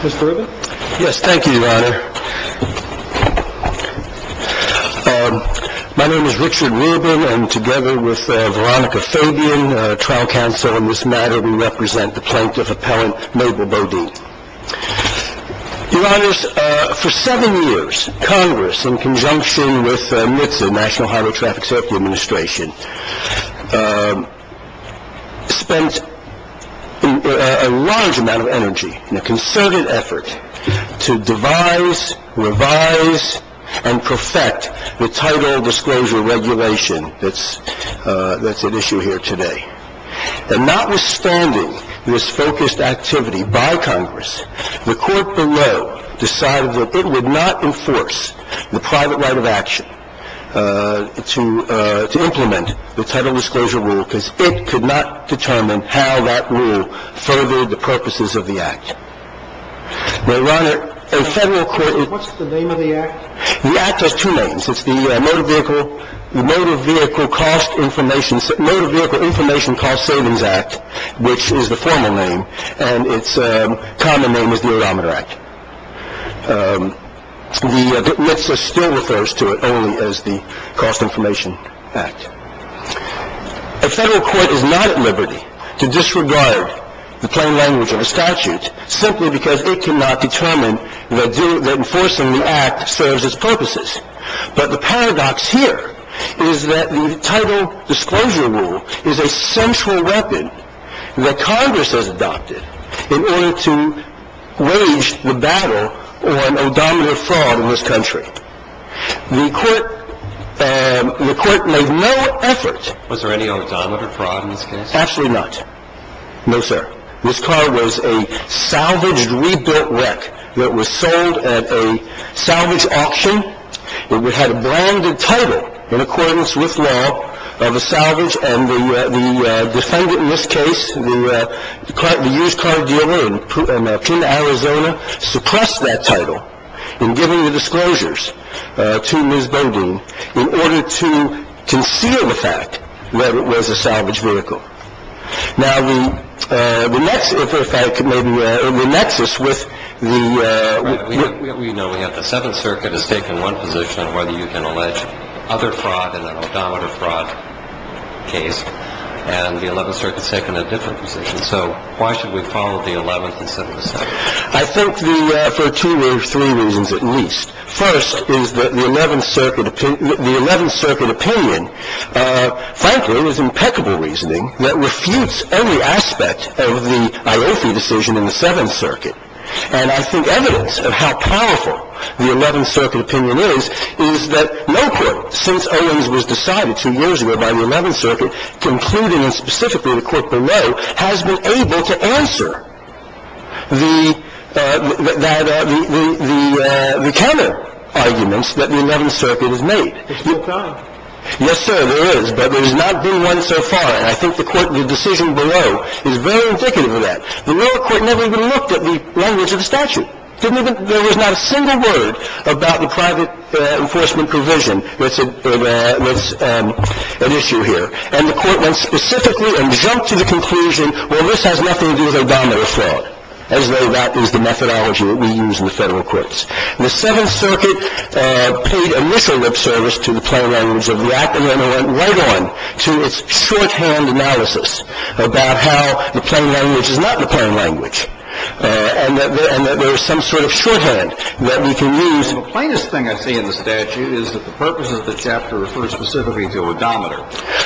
Mr. Rubin? Yes, thank you, Your Honor. My name is Richard Rubin, and together with Veronica Fabian, trial counsel on this matter, we represent the plaintiff-appellant, Noble Bodine. Your Honors, for seven years, Congress, in conjunction with NHTSA, National Highway Traffic Safety Administration, spent a large amount of energy and a concerted effort to devise, revise, and perfect the Title Disclosure Regulation that's at issue here today. And notwithstanding this focused activity by Congress, the Court below decided that it would not enforce the private right of action to implement the Title Disclosure Rule because it could not determine how that rule favored the purposes of the Act. Now, Your Honor, a federal court is… What's the name of the Act? The Act has two names. It's the Motor Vehicle Information Cost Savings Act, which is the formal name, and its common name is the Autometer Act. NHTSA still refers to it only as the Cost Information Act. A federal court is not at liberty to disregard the plain language of a statute simply because it cannot determine that enforcing the Act serves its purposes. But the paradox here is that the Title Disclosure Rule is a central weapon that Congress has adopted in order to wage the battle on odometer fraud in this country. The Court made no effort… Was there any odometer fraud in this case? Absolutely not. No, sir. This car was a salvaged, rebuilt wreck that was sold at a salvage auction. It had a branded title in accordance with law of a salvage, and the defendant in this case, the used car dealer in Arizona, suppressed that title in giving the disclosures to Ms. Bendu in order to conceal the fact that it was a salvage vehicle. Now, the next, if I can maybe… The nexus with the… We know we have the Seventh Circuit has taken one position on whether you can allege other fraud in an odometer fraud case, and the Eleventh Circuit has taken a different position. So why should we follow the Eleventh instead of the Seventh? I think for two or three reasons at least. First is that the Eleventh Circuit opinion, frankly, is impeccable reasoning that refutes every aspect of the Iofi decision in the Seventh Circuit. And I think evidence of how powerful the Eleventh Circuit opinion is is that no court since Owens was decided two years ago by the Eleventh Circuit, including and specifically the court below, has been able to answer the counterarguments that the Eleventh Circuit has made. It's been done. Yes, sir, there is, but there has not been one so far, and I think the decision below is very indicative of that. The lower court never even looked at the language of the statute. There was not a single word about the private enforcement provision that's at issue here. And the court went specifically and jumped to the conclusion, well, this has nothing to do with odometer fraud, as though that is the methodology that we use in the Federal Courts. The Seventh Circuit paid initial lip service to the plain language of the Act, and then it went right on to its shorthand analysis about how the plain language is not the plain language and that there is some sort of shorthand that we can use. The plainest thing I see in the statute is that the purpose of the chapter refers specifically to odometer.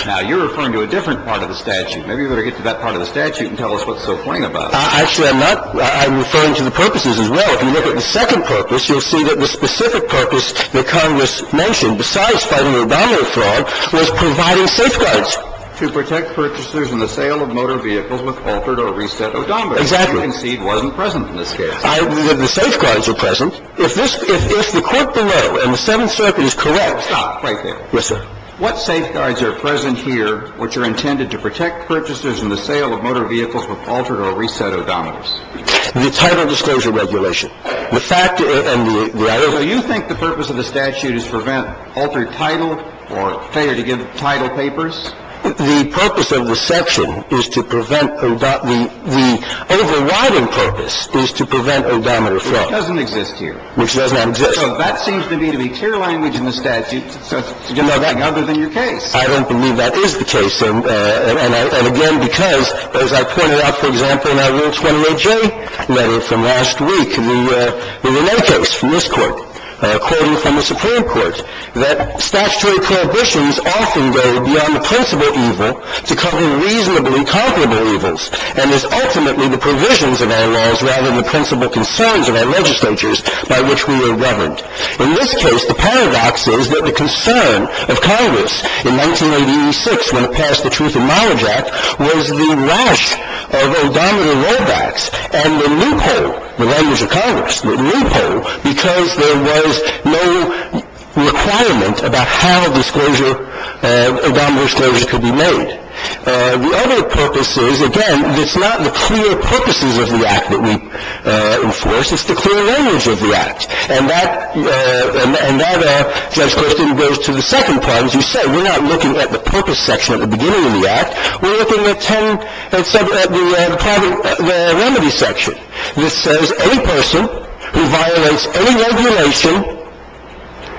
Now, you're referring to a different part of the statute. Maybe you better get to that part of the statute and tell us what's so plain about it. Actually, I'm not. I'm referring to the purposes as well. If you look at the second purpose, you'll see that the specific purpose that Congress mentioned, besides fighting odometer fraud, was providing safeguards. To protect purchasers in the sale of motor vehicles with altered or reset odometers. Exactly. That, I concede, wasn't present in this case. The safeguards are present. If the court below and the Seventh Circuit is correct. Stop right there. Yes, sir. What safeguards are present here which are intended to protect purchasers in the sale of motor vehicles with altered or reset odometers? The title disclosure regulation. The fact and the other. So you think the purpose of the statute is to prevent altered title or failure to give title papers? The purpose of the section is to prevent odometer. The overriding purpose is to prevent odometer fraud. Which doesn't exist here. Which doesn't exist. So that seems to me to be clear language in the statute. You know that. Other than your case. I don't believe that is the case. And again, because, as I pointed out, for example, in our Rule 28J letter from last week, in the Renée case from this Court, quoting from the Supreme Court, that statutory prohibitions often go beyond the principal evil to cover reasonably comparable evils. And it's ultimately the provisions of our laws rather than the principal concerns of our legislatures by which we are governed. In this case, the paradox is that the concern of Congress in 1986 when it passed the Truth and Knowledge Act was the wrath of odometer rollbacks and the loophole, the language of Congress, the loophole, because there was no requirement about how disclosure, odometer disclosure could be made. The other purpose is, again, it's not the clear purposes of the act that we enforce. It's the clear language of the act. And that, Judge Christie, goes to the second part. As you said, we're not looking at the purpose section at the beginning of the act. We're looking at ten at the private remedy section. This says any person who violates any regulation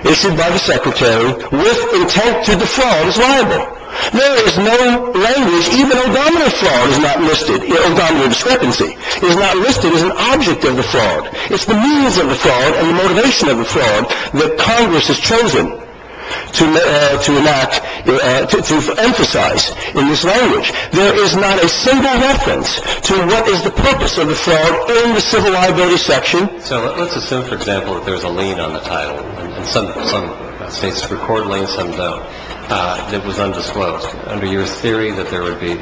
issued by the Secretary with intent to defraud is liable. There is no language, even odometer fraud is not listed, odometer discrepancy is not listed as an object of defraud. It's the means of defraud and the motivation of defraud that Congress has chosen to enact to emphasize in this language. There is not a single reference to what is the purpose of defraud in the civil liability section. So let's assume, for example, that there's a lien on the title. Some states record liens, some don't. It was undisclosed. Under your theory that there would be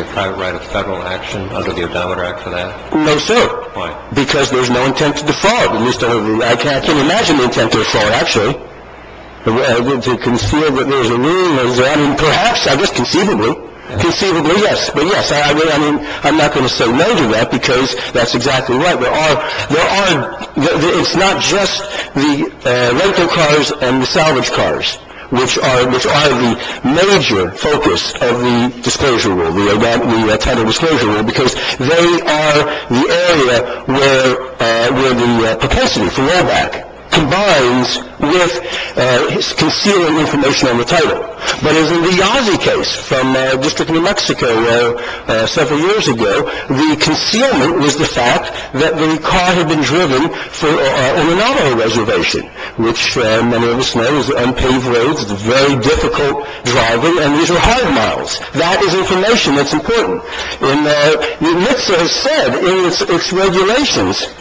a private right of federal action under the Odometer Act for that? No, sir. Why? Because there's no intent to defraud. I can't imagine the intent to defraud, actually. To conceal that there's a lien. I mean, perhaps, I guess conceivably. Conceivably, yes. But, yes, I'm not going to say no to that because that's exactly right. It's not just the rental cars and the salvage cars, which are the major focus of the disclosure rule, the Title Disclosure Rule, because they are the area where the propensity for rollback combines with concealing information on the title. But as in the Yazzie case from the District of New Mexico several years ago, the concealment was the fact that the car had been driven on an auto reservation, which many of us know is unpaved roads, very difficult driving, and these are high miles. That is information that's important. And NHTSA has said in its regulations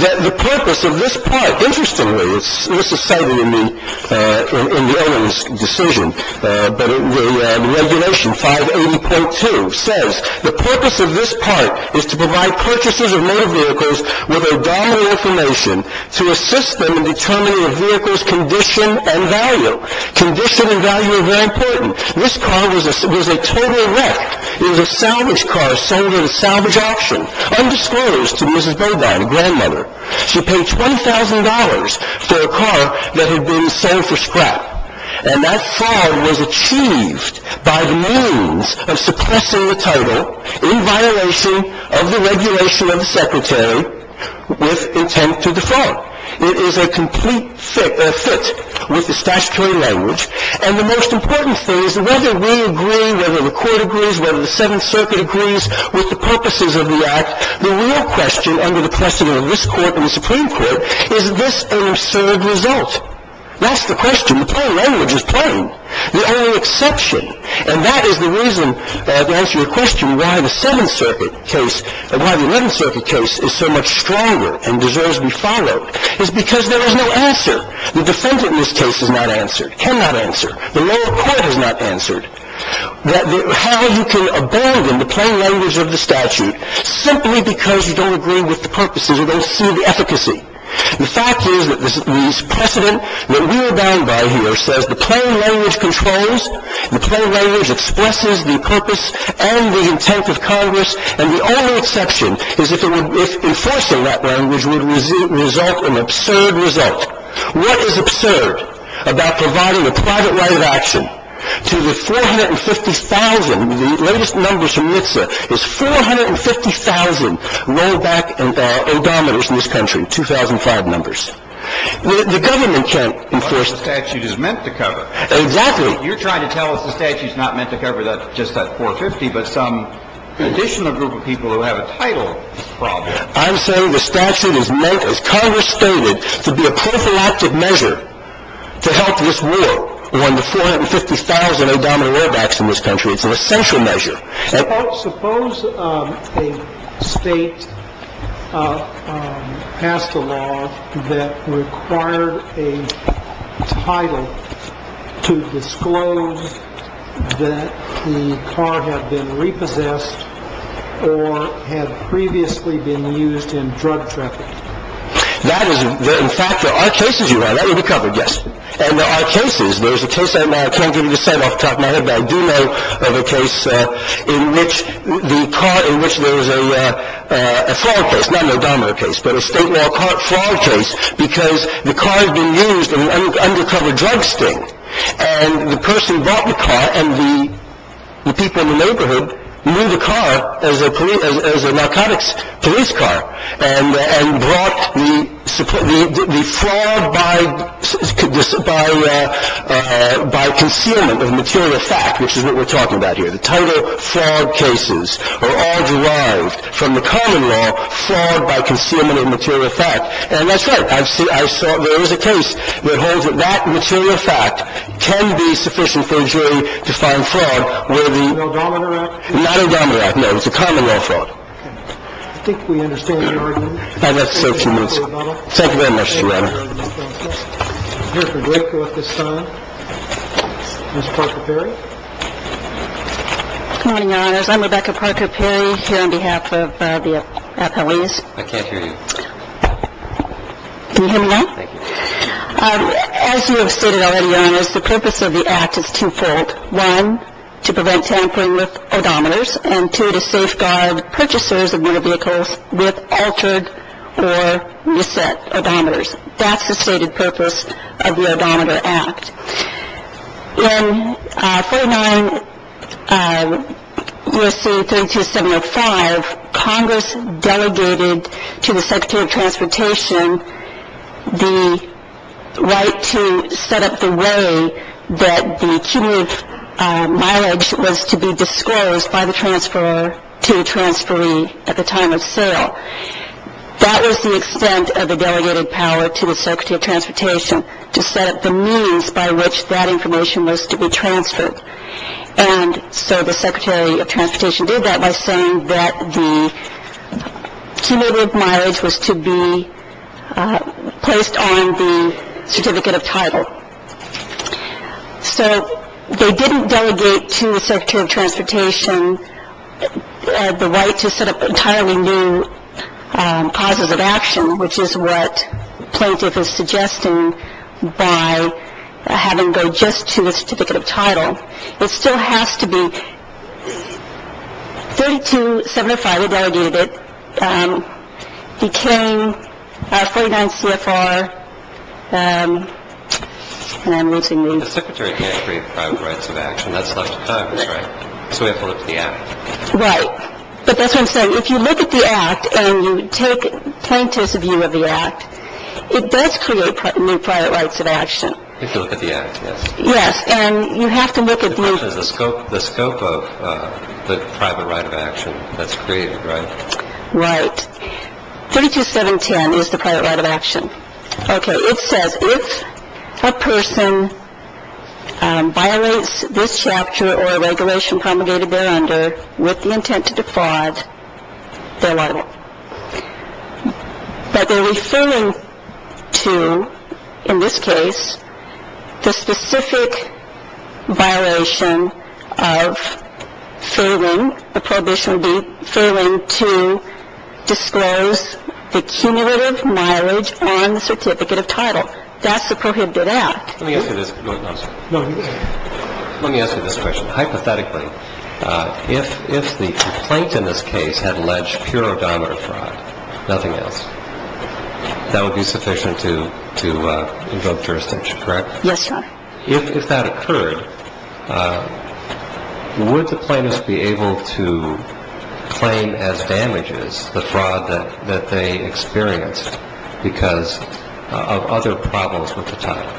that the purpose of this part, interestingly, this is cited in the owner's decision, but the regulation 580.2 says, the purpose of this part is to provide purchasers of motor vehicles with abdominal information to assist them in determining a vehicle's condition and value. Condition and value are very important. This car was a total wreck. It was a salvage car sold in a salvage auction, undisclosed to Mrs. Beaubien, a grandmother. She paid $20,000 for a car that had been sold for scrap. And that fraud was achieved by the means of suppressing the title in violation of the regulation of the Secretary with intent to defraud. It is a complete fit with the statutory language. And the most important thing is whether we agree, whether the court agrees, whether the Seventh Circuit agrees with the purposes of the act, the real question under the precedent of this court and the Supreme Court is, is this an absurd result? That's the question. The plain language is plain. The only exception, and that is the reason to answer your question why the Seventh Circuit case, why the Eleventh Circuit case is so much stronger and deserves to be followed, is because there is no answer. The defendant in this case has not answered, cannot answer. The lower court has not answered. How you can abandon the plain language of the statute simply because you don't agree with the purposes, you don't see the efficacy. The fact is that this precedent that we abide by here says the plain language controls, the plain language expresses the purpose and the intent of Congress, and the only exception is if enforcing that language would result in an absurd result. What is absurd about providing a private right of action to the 450,000, the latest numbers from NHTSA, is 450,000 low back abominers in this country, 2005 numbers. The government can't enforce that. But the statute is meant to cover. Exactly. You're trying to tell us the statute is not meant to cover just that 450, but some additional group of people who have a title problem. I'm saying the statute is meant, as Congress stated, to be a prophylactic measure to help this war on the 450,000 abominable low backs in this country. It's an essential measure. Suppose a state passed a law that required a title to disclose that the car had been repossessed or had previously been used in drug traffic. That is, in fact, there are cases, Your Honor, that would be covered, yes. And there are cases. There's a case I can't give you the name off the top of my head, but I do know of a case in which the car, in which there was a fraud case, not an abominable case, but a state-of-the-art fraud case, because the car had been used in an undercover drug sting. And the person brought the car, and the people in the neighborhood knew the car as a narcotics police car, and brought the fraud by concealment of material fact, which is what we're talking about here. The title fraud cases are all derived from the common law, fraud by concealment of material fact. And that's right. There is a case that holds that that material fact can be sufficient for a jury to find fraud where the I think we understand your argument. Thank you very much, Your Honor. I'm here for great court this time. Ms. Parker-Perry. Good morning, Your Honors. I'm Rebecca Parker-Perry here on behalf of the appellees. I can't hear you. Can you hear me now? Thank you. As you have stated already, Your Honors, the purpose of the Act is twofold. One, to prevent tampering with odometers, and two, to safeguard purchasers of motor vehicles with altered or misset odometers. That's the stated purpose of the Odometer Act. In 49 U.S.C. 32705, Congress delegated to the Secretary of Transportation the right to set up the way that the cumulative mileage was to be disclosed by the transfer to the transferee at the time of sale. That was the extent of the delegated power to the Secretary of Transportation to set up the means by which that information was to be transferred. And so the Secretary of Transportation did that by saying that the cumulative mileage was to be placed on the certificate of title. So they didn't delegate to the Secretary of Transportation the right to set up entirely new causes of action, which is what plaintiff is suggesting by having it go just to the certificate of title. It still has to be. 32705 delegated it. He came, 49 CFR, and I'm losing these. The Secretary can't create private rights of action. That's left to Congress, right? So we have to look at the Act. Right. But that's what I'm saying. If you look at the Act and you take plaintiff's view of the Act, it does create new private rights of action. If you look at the Act, yes. Yes. And you have to look at the scope of the private right of action that's created, right? Right. 32710 is the private right of action. Okay. It says if a person violates this chapter or a regulation promulgated there under with the intent to defraud, they're liable. But they're referring to, in this case, the specific violation of failing. The prohibition would be failing to disclose the cumulative mileage on the certificate of title. That's the prohibited Act. Let me ask you this. No, I'm sorry. No. Let me ask you this question. Hypothetically, if the complaint in this case had alleged pure odometer fraud, nothing else, that would be sufficient to invoke jurisdiction, correct? Yes, sir. If that occurred, would the plaintiff be able to claim as damages the fraud that they experienced because of other problems with the title?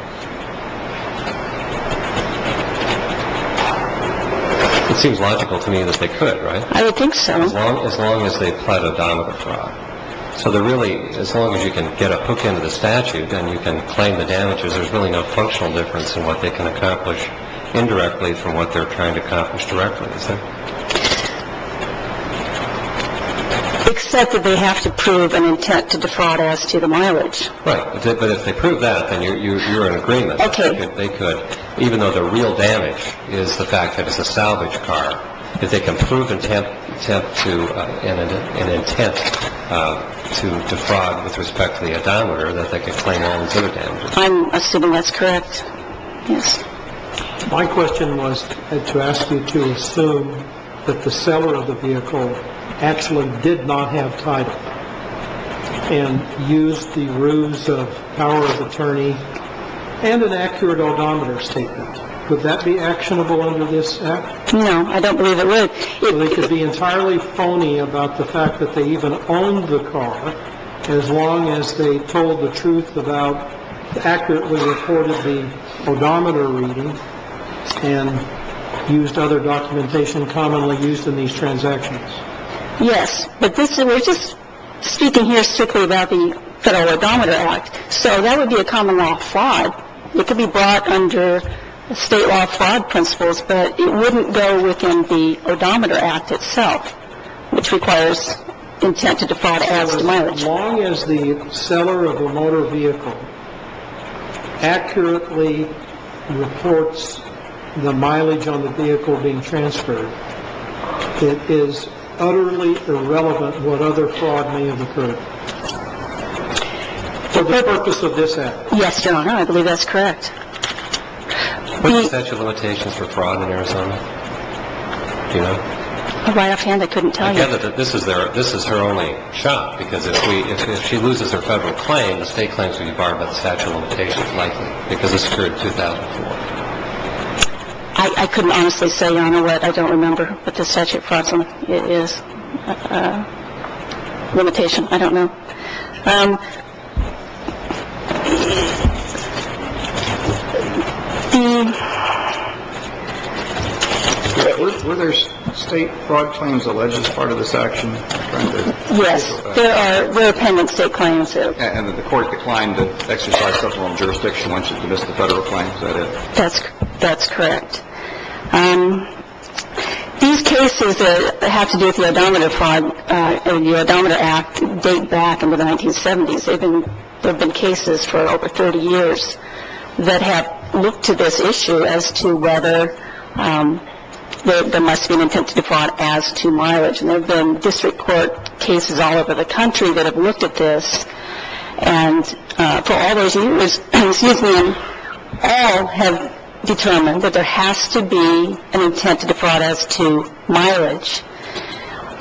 It seems logical to me that they could, right? I would think so. As long as they pled odometer fraud. So they're really, as long as you can get a hook into the statute and you can claim the damages, there's really no functional difference in what they can accomplish indirectly from what they're trying to accomplish directly, is there? Except that they have to prove an intent to defraud as to the mileage. Right. But if they prove that, then you're in agreement. Okay. Even though the real damage is the fact that it's a salvage car, if they can prove intent to an intent to defraud with respect to the odometer that they can claim their own damages. I assume that's correct. Yes. My question was to ask you to assume that the seller of the vehicle actually did not have title and used the ruse of power of attorney and an accurate odometer statement. Would that be actionable under this act? No, I don't believe it would. They could be entirely phony about the fact that they even owned the car as long as they told the truth about accurately reported the odometer reading and used other documentation commonly used in these transactions. Yes, but we're just speaking here strictly about the Federal Odometer Act. So that would be a common law fraud. It could be brought under state law fraud principles, but it wouldn't go within the Odometer Act itself, which requires intent to defraud as to mileage. As long as the seller of a motor vehicle accurately reports the mileage on the vehicle being transferred, it is utterly irrelevant what other fraud may have occurred for the purpose of this act. Yes, Your Honor, I believe that's correct. What are the statute of limitations for fraud in Arizona? Do you know? Right offhand, I couldn't tell you. This is there. This is her only shot because if she loses her federal claim, the state claims to be barred by the statute of limitations likely because this occurred 2004. I couldn't honestly say, Your Honor, what I don't remember. But the statute fraud is limitation. I don't know. Were there state fraud claims alleged as part of this action? Yes, there are. We're pending state claims. And the court declined to exercise federal jurisdiction once you've missed the federal claim. That's that's correct. These cases have to do with the odometer fraud. The Odometer Act date back into the 1970s. There have been cases for over 30 years that have looked to this issue as to whether there must be an intent to defraud as to mileage. And there have been district court cases all over the country that have looked at this. And for all those years, excuse me, all have determined that there has to be an intent to defraud as to mileage.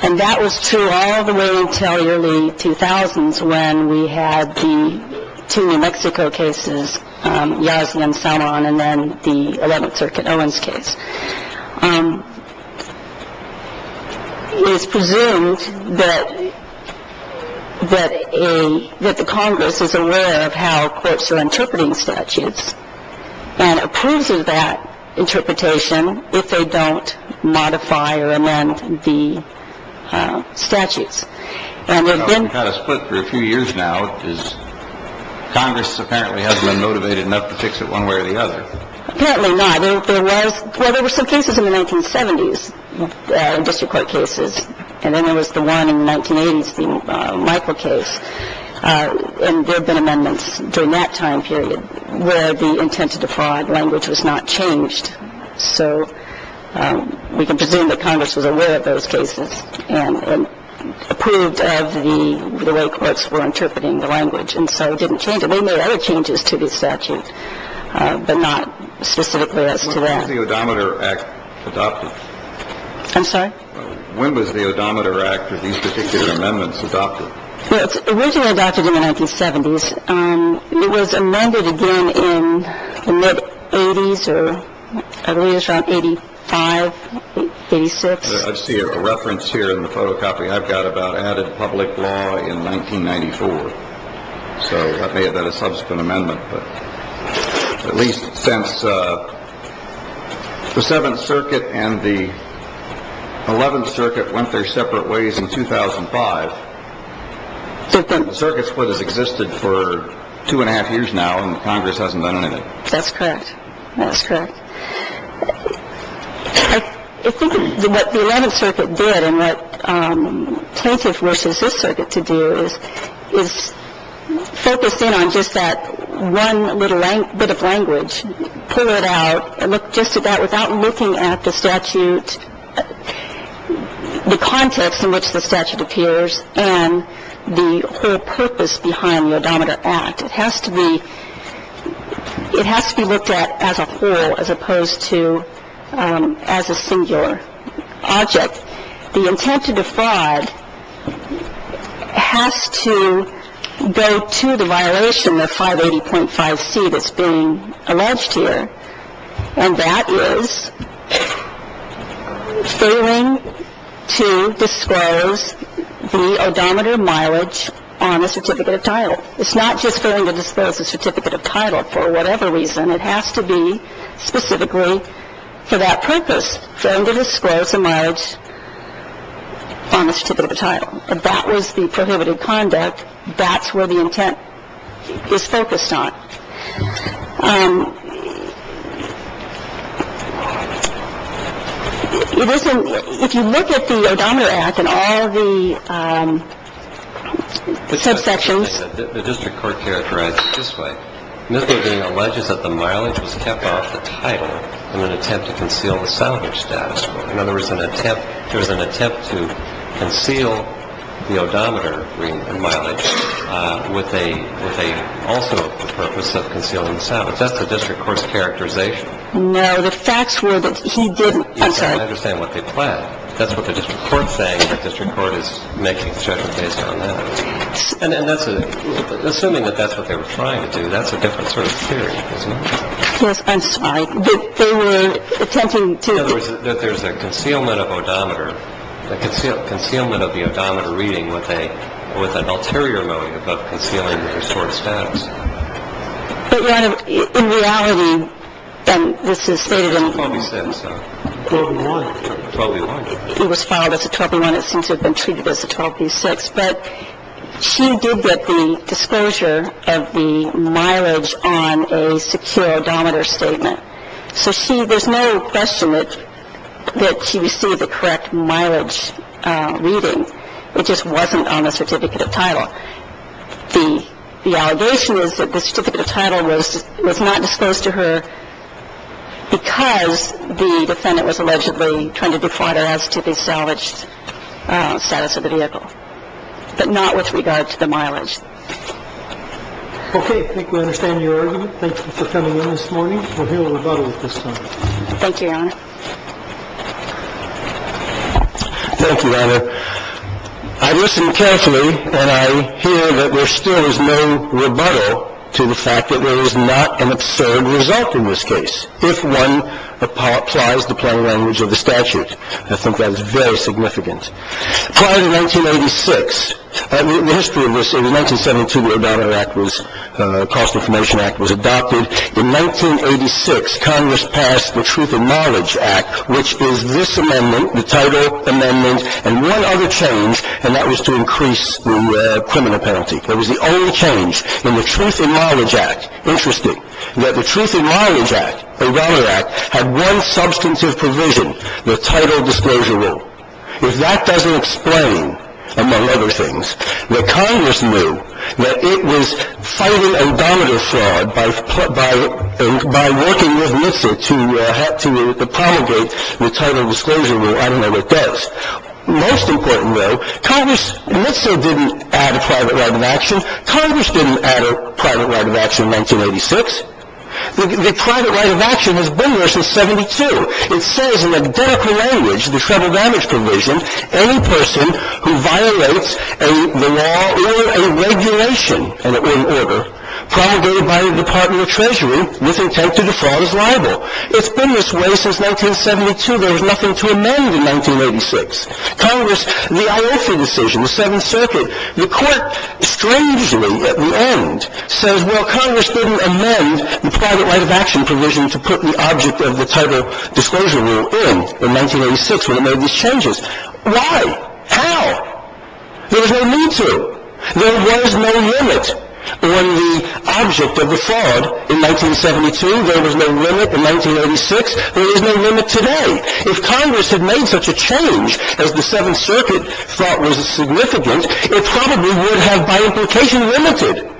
And that was true all the way until the early 2000s when we had the two New Mexico cases, Yasmin Salman and then the 11th Circuit Owens case. It is presumed that the Congress is aware of how courts are interpreting statutes and approves of that interpretation if they don't modify or amend the statutes. And they've been kind of split for a few years now. Is Congress apparently has been motivated enough to fix it one way or the other? Apparently not. There was there were some cases in the 1970s, district court cases. And then there was the one in 1980s, the Michael case. And there have been amendments during that time period where the intent to defraud language was not changed. So we can presume that Congress was aware of those cases and approved of the way courts were interpreting the language. And so it didn't change it. They made other changes to the statute, but not specifically as to that. The Odometer Act adopted. I'm sorry. When was the Odometer Act or these particular amendments adopted? It was originally adopted in the 1970s. It was amended again in the mid 80s or I believe it was around 85, 86. I see a reference here in the photocopy I've got about added public law in 1994. So that may have been a subsequent amendment. At least since the Seventh Circuit and the Eleventh Circuit went their separate ways in 2005. Circuit split has existed for two and a half years now and Congress hasn't done anything. That's correct. That's correct. I think what the Eleventh Circuit did and what plaintiff wishes this circuit to do is focus in on just that one little bit of language, pull it out and look just at that without looking at the statute, the context in which the statute appears, and the whole purpose behind the Odometer Act. It has to be looked at as a whole as opposed to as a singular object. The intent to defraud has to go to the violation of 580.5C that's being alleged here, and that is failing to disclose the odometer mileage on a certificate of title. It's not just failing to disclose a certificate of title for whatever reason. It has to be specifically for that purpose, failing to disclose a mileage on a certificate of title. That was the prohibited conduct. That's where the intent is focused on. And if you look at the Odometer Act and all the subsections. The district court characterizes it this way. Miffelding alleges that the mileage was kept off the title in an attempt to conceal the salvage status quo. In other words, an attempt, there was an attempt to conceal the odometer mileage with a, also the purpose of concealing the salvage. That's the district court's characterization. No, the facts were that he didn't, I'm sorry. He did not understand what they planned. That's what the district court is saying. The district court is making a judgment based on that. And that's a, assuming that that's what they were trying to do, that's a different sort of theory, isn't it? Yes, I'm sorry. They were attempting to. In other words, that there's a concealment of odometer, a concealment of the odometer reading with an ulterior motive of concealing the restored status. But, Ron, in reality, and this is stated in. 12 v. 6. 12 v. 1. 12 v. 1. It was filed as a 12 v. 1. It seems to have been treated as a 12 v. 6. But she did get the disclosure of the mileage on a secure odometer statement. So see, there's no question that she received the correct mileage reading. It just wasn't on the certificate of title. The allegation is that the certificate of title was not disclosed to her because the defendant was allegedly trying to defraud her as to the salvaged status of the vehicle, but not with regard to the mileage. Okay. I think we understand your argument. Thank you for coming in this morning. We'll hear a rebuttal at this time. Thank you, Your Honor. Thank you, Your Honor. I listen carefully, and I hear that there still is no rebuttal to the fact that there is not an absurd result in this case, if one applies the plain language of the statute. I think that is very significant. Prior to 1986, the history of this, in 1972, the Odometer Act was, the Cost of Promotion Act was adopted. In 1986, Congress passed the Truth in Knowledge Act, which is this amendment, the title amendment, and one other change, and that was to increase the criminal penalty. That was the only change. In the Truth in Knowledge Act, interesting, that the Truth in Knowledge Act, the Raleigh Act, had one substantive provision, the title disclosure rule. If that doesn't explain, among other things, that Congress knew that it was fighting odometer fraud by working with NHTSA to promulgate the title disclosure rule, I don't know what does. Most important, though, Congress, NHTSA didn't add a private right of action. Congress didn't add a private right of action in 1986. The private right of action has been there since 72. It says in identical language, the Federal Damage Provision, any person who violates the law or a regulation or an order promulgated by the Department of Treasury with intent to defraud is liable. It's been this way since 1972. There was nothing to amend in 1986. Congress, the IOC decision, the Seventh Circuit, the Court, strangely, at the end, says, well, Congress didn't amend the private right of action provision to put the object of the title disclosure rule in in 1986 when it made these changes. Why? How? There was no need to. There was no limit on the object of the fraud in 1972. There was no limit in 1986. There is no limit today. If Congress had made such a change, as the Seventh Circuit thought was significant, it probably would have, by implication, limited.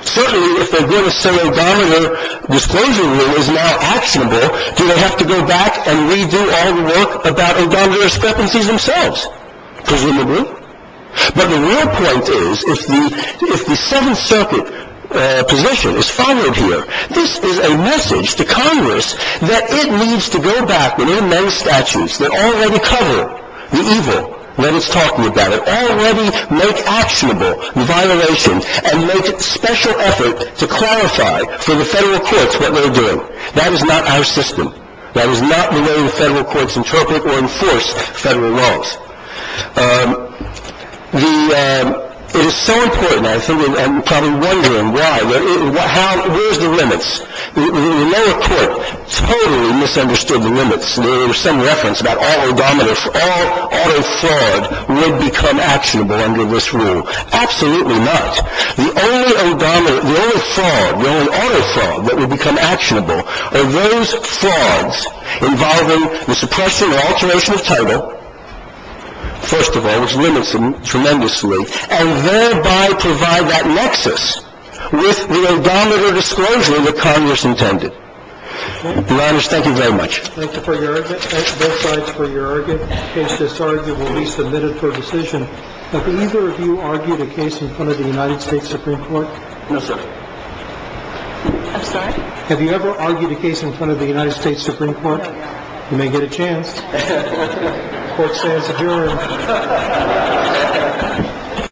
Certainly, if they're going to say a domino disclosure rule is now actionable, do they have to go back and redo all the work about domino discrepancies themselves? Presumably. But the real point is, if the Seventh Circuit position is followed here, this is a message to Congress that it needs to go back and amend statutes that already cover the evil that it's talking about, that already make actionable violations and make special effort to clarify for the federal courts what they're doing. That is not our system. That is not the way the federal courts interpret or enforce federal laws. It is so important, I'm probably wondering why. Where's the limits? The lower court totally misunderstood the limits. There was some reference about all autofraud would become actionable under this rule. Absolutely not. The only autofraud that would become actionable are those frauds involving the suppression or alteration of title, first of all, which limits them tremendously, and thereby provide that nexus with the domino disclosure that Congress intended. Your Honor, thank you very much. Thank you for your argument. Both sides for your argument. In case this argument will be submitted for decision, have either of you argued a case in front of the United States Supreme Court? No, sir. I'm sorry? Have you ever argued a case in front of the United States Supreme Court? No. You may get a chance. Court stands adjourned. Thank you.